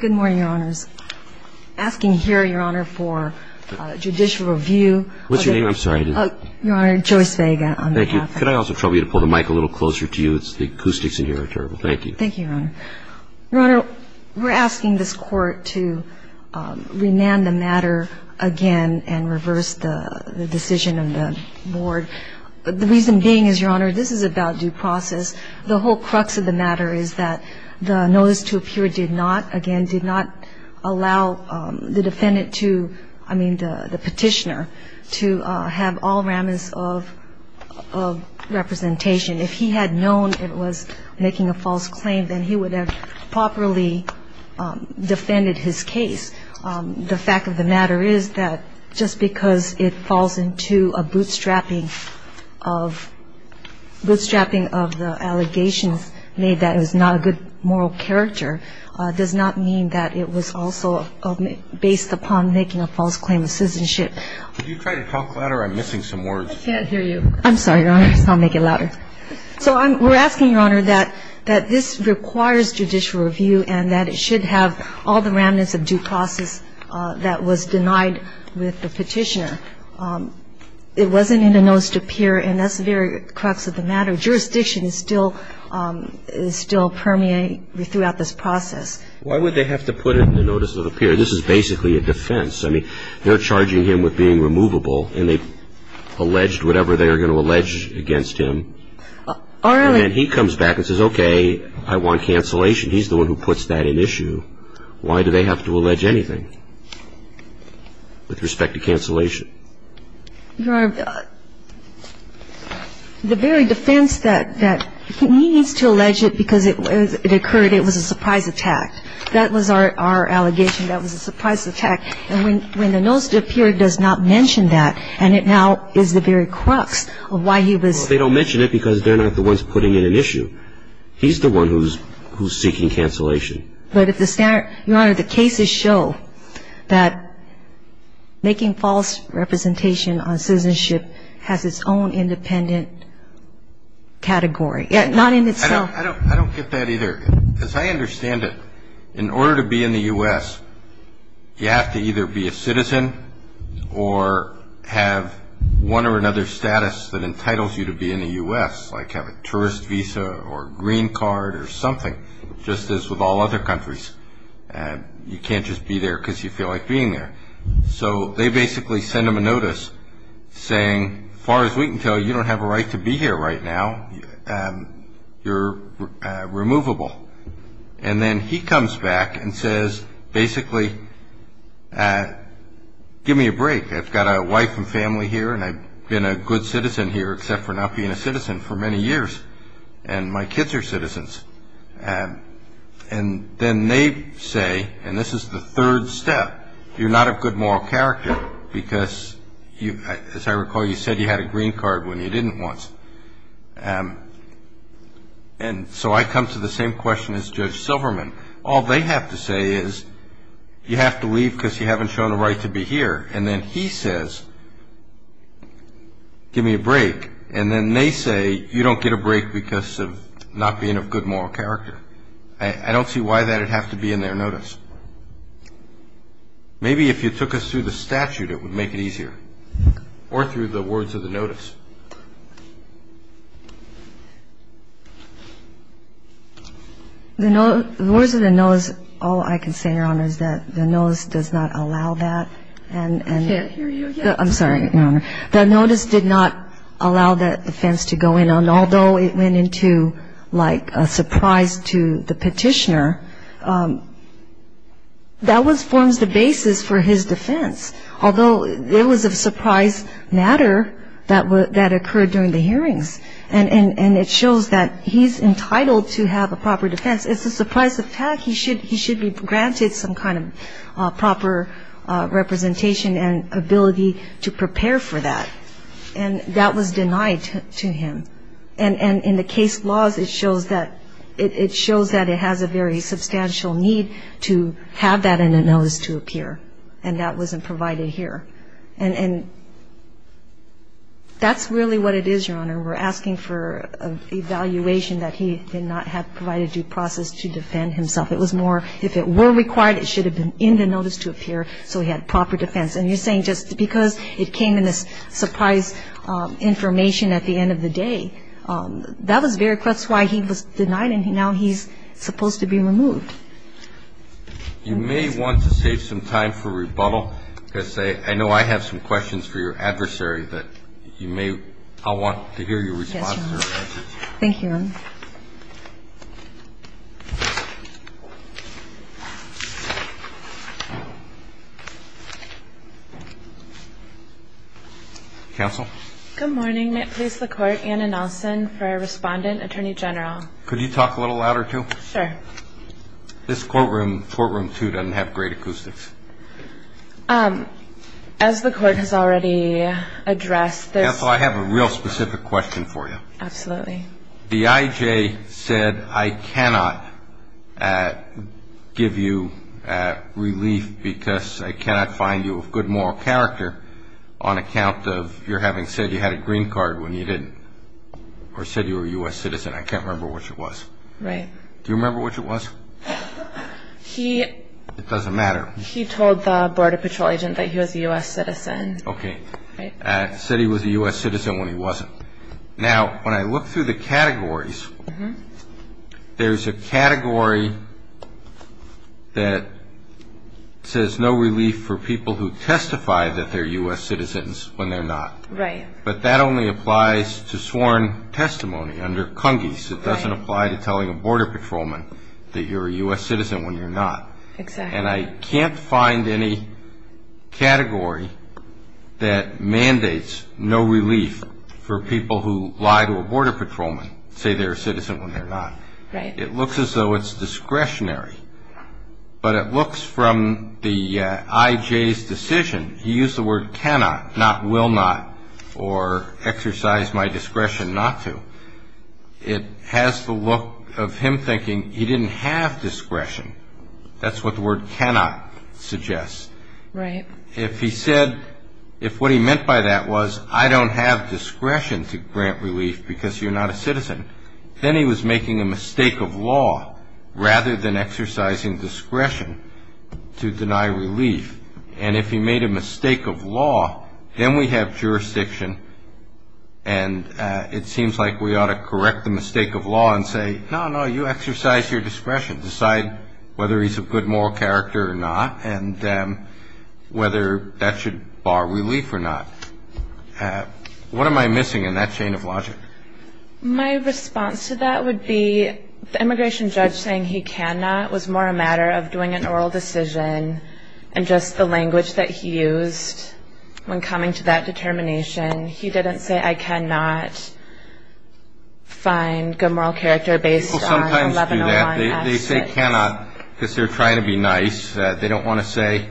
Good morning, Your Honors. Asking here, Your Honor, for a judicial review of the- What's your name? I'm sorry, I didn't- Your Honor, Joyce Vega, on behalf of- Thank you. Could I also trouble you to pull the mic a little closer to you? The acoustics in here are terrible. Thank you. Thank you, Your Honor. Your Honor, we're asking this Court to remand the matter again and reverse the decision of the Board. The reason being is, Your Honor, this is about due process. The whole crux of the matter is that the notice to appear did not, again, did not allow the defendant to, I mean the petitioner, to have all ramifications of representation. If he had known it was making a false claim, then he would have properly defended his case. The fact of the matter is that just because it falls into a bootstrapping of the allegations made that it was not a good moral character does not mean that it was also based upon making a false claim of citizenship. Could you try to talk louder? I'm missing some words. I can't hear you. I'm sorry, Your Honor. I'll make it louder. So we're asking, Your Honor, that this requires judicial review and that it should have all the remnants of due process that was denied with the petitioner. It wasn't in the notice to appear, and that's the very crux of the matter. Jurisdiction is still permeating throughout this process. Why would they have to put it in the notice to appear? This is basically a defense. I mean, they're charging him with being removable, and they've alleged whatever they are going to allege against him. And then he comes back and says, okay, I want cancellation. He's the one who puts that in issue. Why do they have to allege anything with respect to cancellation? Your Honor, the very defense that he needs to allege it because it occurred, it was a surprise attack. That was our allegation. That was a surprise attack. And when the notice to appear does not mention that, and it now is the very crux of why he was ---- Well, they don't mention it because they're not the ones putting it in issue. He's the one who's seeking cancellation. But if the standard ---- Your Honor, the cases show that making false representation on citizenship has its own independent category. Not in itself. I don't get that either. As I understand it, in order to be in the U.S., you have to either be a citizen or have one or another status that entitles you to be in the U.S., like have a tourist visa or green card or something, just as with all other countries. You can't just be there because you feel like being there. So they basically send him a notice saying, as far as we can tell, you don't have a right to be here right now. You're removable. And then he comes back and says, basically, give me a break. I've got a wife and family here, and I've been a good citizen here except for not being a citizen for many years. And my kids are citizens. And then they say, and this is the third step, you're not of good moral character because, as I recall, you said you had a green card when you didn't once. And so I come to the same question as Judge Silverman. All they have to say is, you have to leave because you haven't shown a right to be here. And then he says, give me a break. And then they say, you don't get a break because of not being of good moral character. I don't see why that would have to be in their notice. Maybe if you took us through the statute, it would make it easier. Or through the words of the notice. The words of the notice, all I can say, Your Honor, is that the notice does not allow that. I can't hear you again. I'm sorry, Your Honor. The notice did not allow that offense to go in. And although it went into like a surprise to the petitioner, that forms the basis for his defense. Although it was a surprise matter that occurred during the hearings. And it shows that he's entitled to have a proper defense. It's a surprise attack. He should be granted some kind of proper representation and ability to prepare for that. And that was denied to him. And in the case laws, it shows that it has a very substantial need to have that in a notice to appear. And that wasn't provided here. And that's really what it is, Your Honor. We're asking for an evaluation that he did not have provided due process to defend himself. It was more, if it were required, it should have been in the notice to appear so he had proper defense. And you're saying just because it came in this surprise information at the end of the day, that was very close to why he was denied and now he's supposed to be removed. You may want to save some time for rebuttal. Because I know I have some questions for your adversary that you may want to hear your response to. Thank you, Your Honor. Counsel? Good morning. May it please the Court, Anna Nelson for our respondent, Attorney General. Could you talk a little louder, too? Sure. This courtroom, courtroom two, doesn't have great acoustics. As the Court has already addressed, there's – Counsel, I have a real specific question for you. Absolutely. The I.J. said, I cannot give you relief because I cannot find you of good moral character on account of your having said you had a green card when you didn't or said you were a U.S. citizen. I can't remember which it was. Right. Do you remember which it was? He – It doesn't matter. He told the Border Patrol agent that he was a U.S. citizen. Okay. Said he was a U.S. citizen when he wasn't. Now, when I look through the categories, there's a category that says no relief for people who testify that they're U.S. citizens when they're not. Right. But that only applies to sworn testimony under CUNGIS. Right. It doesn't apply to telling a Border Patrolman that you're a U.S. citizen when you're not. Exactly. And I can't find any category that mandates no relief for people who lie to a Border Patrolman and say they're a citizen when they're not. Right. It looks as though it's discretionary. But it looks from the I.J.'s decision. He used the word cannot, not will not, or exercise my discretion not to. It has the look of him thinking he didn't have discretion. That's what the word cannot suggests. Right. If he said, if what he meant by that was I don't have discretion to grant relief because you're not a citizen, then he was making a mistake of law rather than exercising discretion to deny relief. And if he made a mistake of law, then we have jurisdiction, and it seems like we ought to correct the mistake of law and say, no, no, you exercise your discretion. We should decide whether he's a good moral character or not and whether that should bar relief or not. What am I missing in that chain of logic? My response to that would be the immigration judge saying he cannot was more a matter of doing an oral decision and just the language that he used when coming to that determination. He didn't say I cannot find good moral character based on 1101-S. They say cannot because they're trying to be nice. They don't want to say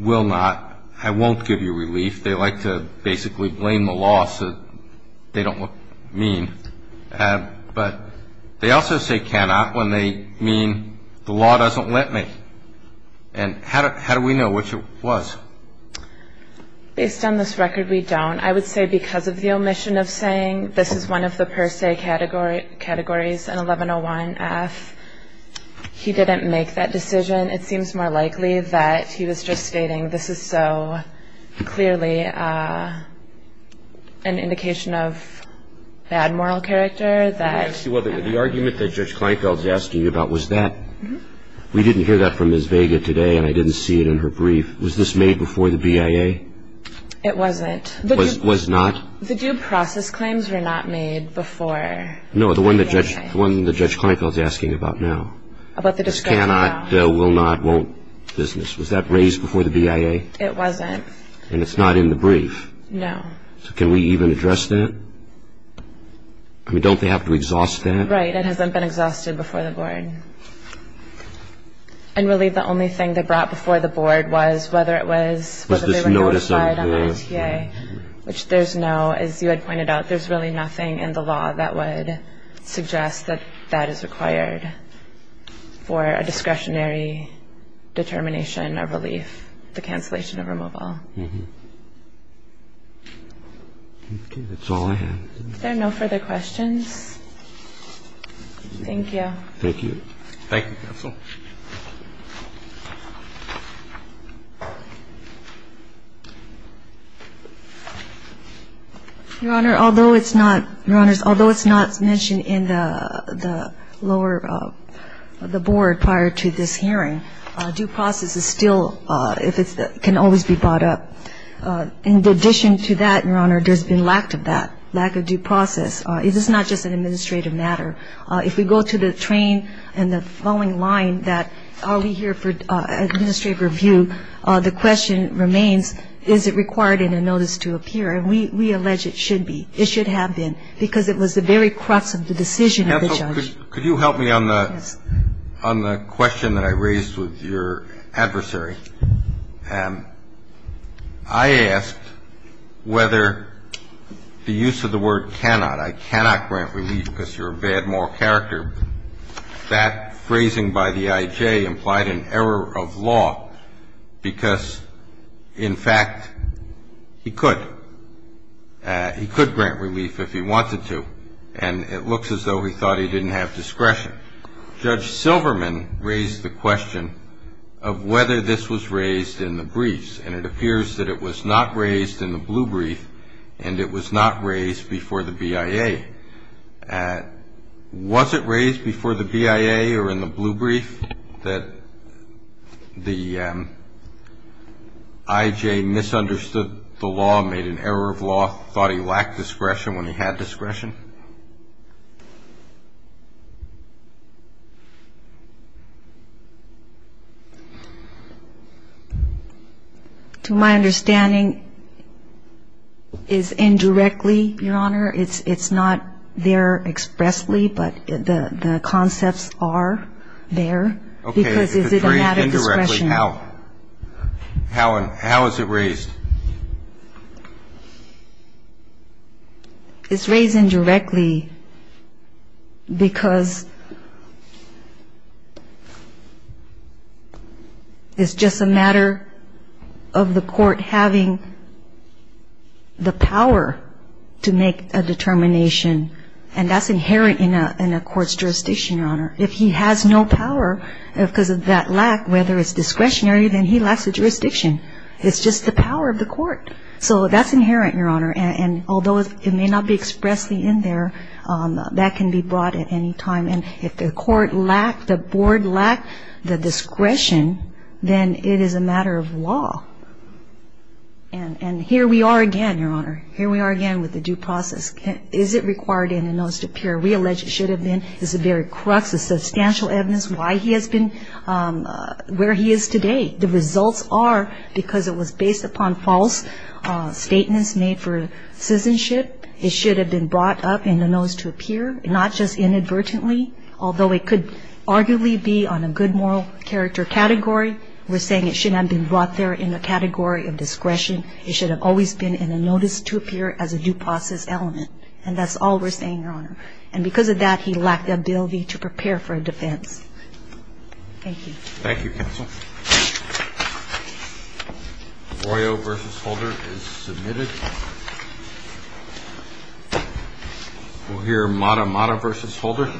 will not. I won't give you relief. They like to basically blame the law so they don't look mean. But they also say cannot when they mean the law doesn't let me. And how do we know which it was? Based on this record, we don't. And I would say because of the omission of saying this is one of the per se categories in 1101-F, he didn't make that decision. It seems more likely that he was just stating this is so clearly an indication of bad moral character that the argument that Judge Kleinfeld's asking you about was that. We didn't hear that from Ms. Vega today and I didn't see it in her brief. Was this made before the BIA? It wasn't. It was not? The due process claims were not made before the BIA. No, the one that Judge Kleinfeld's asking about now. About the discussion now. This cannot, will not, won't business. Was that raised before the BIA? It wasn't. And it's not in the brief? No. So can we even address that? I mean, don't they have to exhaust that? Right. It hasn't been exhausted before the board. And really the only thing they brought before the board was whether it was whether they were notified on the NTA. Which there's no, as you had pointed out, there's really nothing in the law that would suggest that that is required for a discretionary determination of relief, the cancellation of removal. Okay. That's all I have. Is there no further questions? Thank you. Thank you. Thank you, counsel. Your Honor, although it's not, Your Honors, although it's not mentioned in the lower, the board prior to this hearing, due process is still, if it's, can always be brought up. In addition to that, Your Honor, there's been lack of that, lack of due process. It is not just an administrative matter. If we go to the train and the following line, the question remains, is it required in a notice to appear? And we allege it should be. It should have been. Because it was the very crux of the decision of the judge. Counsel, could you help me on the question that I raised with your adversary? I asked whether the use of the word cannot. I cannot grant relief because you're a bad moral character. That phrasing by the IJ implied an error of law because, in fact, he could. He could grant relief if he wanted to, and it looks as though he thought he didn't have discretion. Judge Silverman raised the question of whether this was raised in the briefs, and it appears that it was not raised in the blue brief and it was not raised before the BIA. Was it raised before the BIA or in the blue brief that the IJ misunderstood the law, made an error of law, thought he lacked discretion when he had discretion? To my understanding, it's indirectly, Your Honor. It's not there expressly, but the concepts are there. Okay. Because is it a matter of discretion? It's raised indirectly. How? How is it raised? It's raised indirectly because it's just a matter of the court having the power to make a determination, and that's inherent in a court's jurisdiction, Your Honor. If he has no power because of that lack, whether it's discretionary, then he lacks a jurisdiction. It's just the power of the court. So that's inherent, Your Honor, and although it may not be expressly in there, that can be brought at any time, and if the court lacked, the board lacked the discretion, then it is a matter of law. And here we are again, Your Honor. Here we are again with the due process. Is it required in the notice to appear? We allege it should have been. Is it buried crux? Is it substantial evidence why he has been where he is today? The results are because it was based upon false statements made for citizenship. It should have been brought up in the notice to appear, not just inadvertently. Although it could arguably be on a good moral character category, we're saying it should not have been brought there in a category of discretion. It should have always been in a notice to appear as a due process element, and that's all we're saying, Your Honor. And because of that, he lacked the ability to prepare for a defense. Thank you. Thank you, counsel. Arroyo v. Holder is submitted. We'll hear Matamata v. Holder.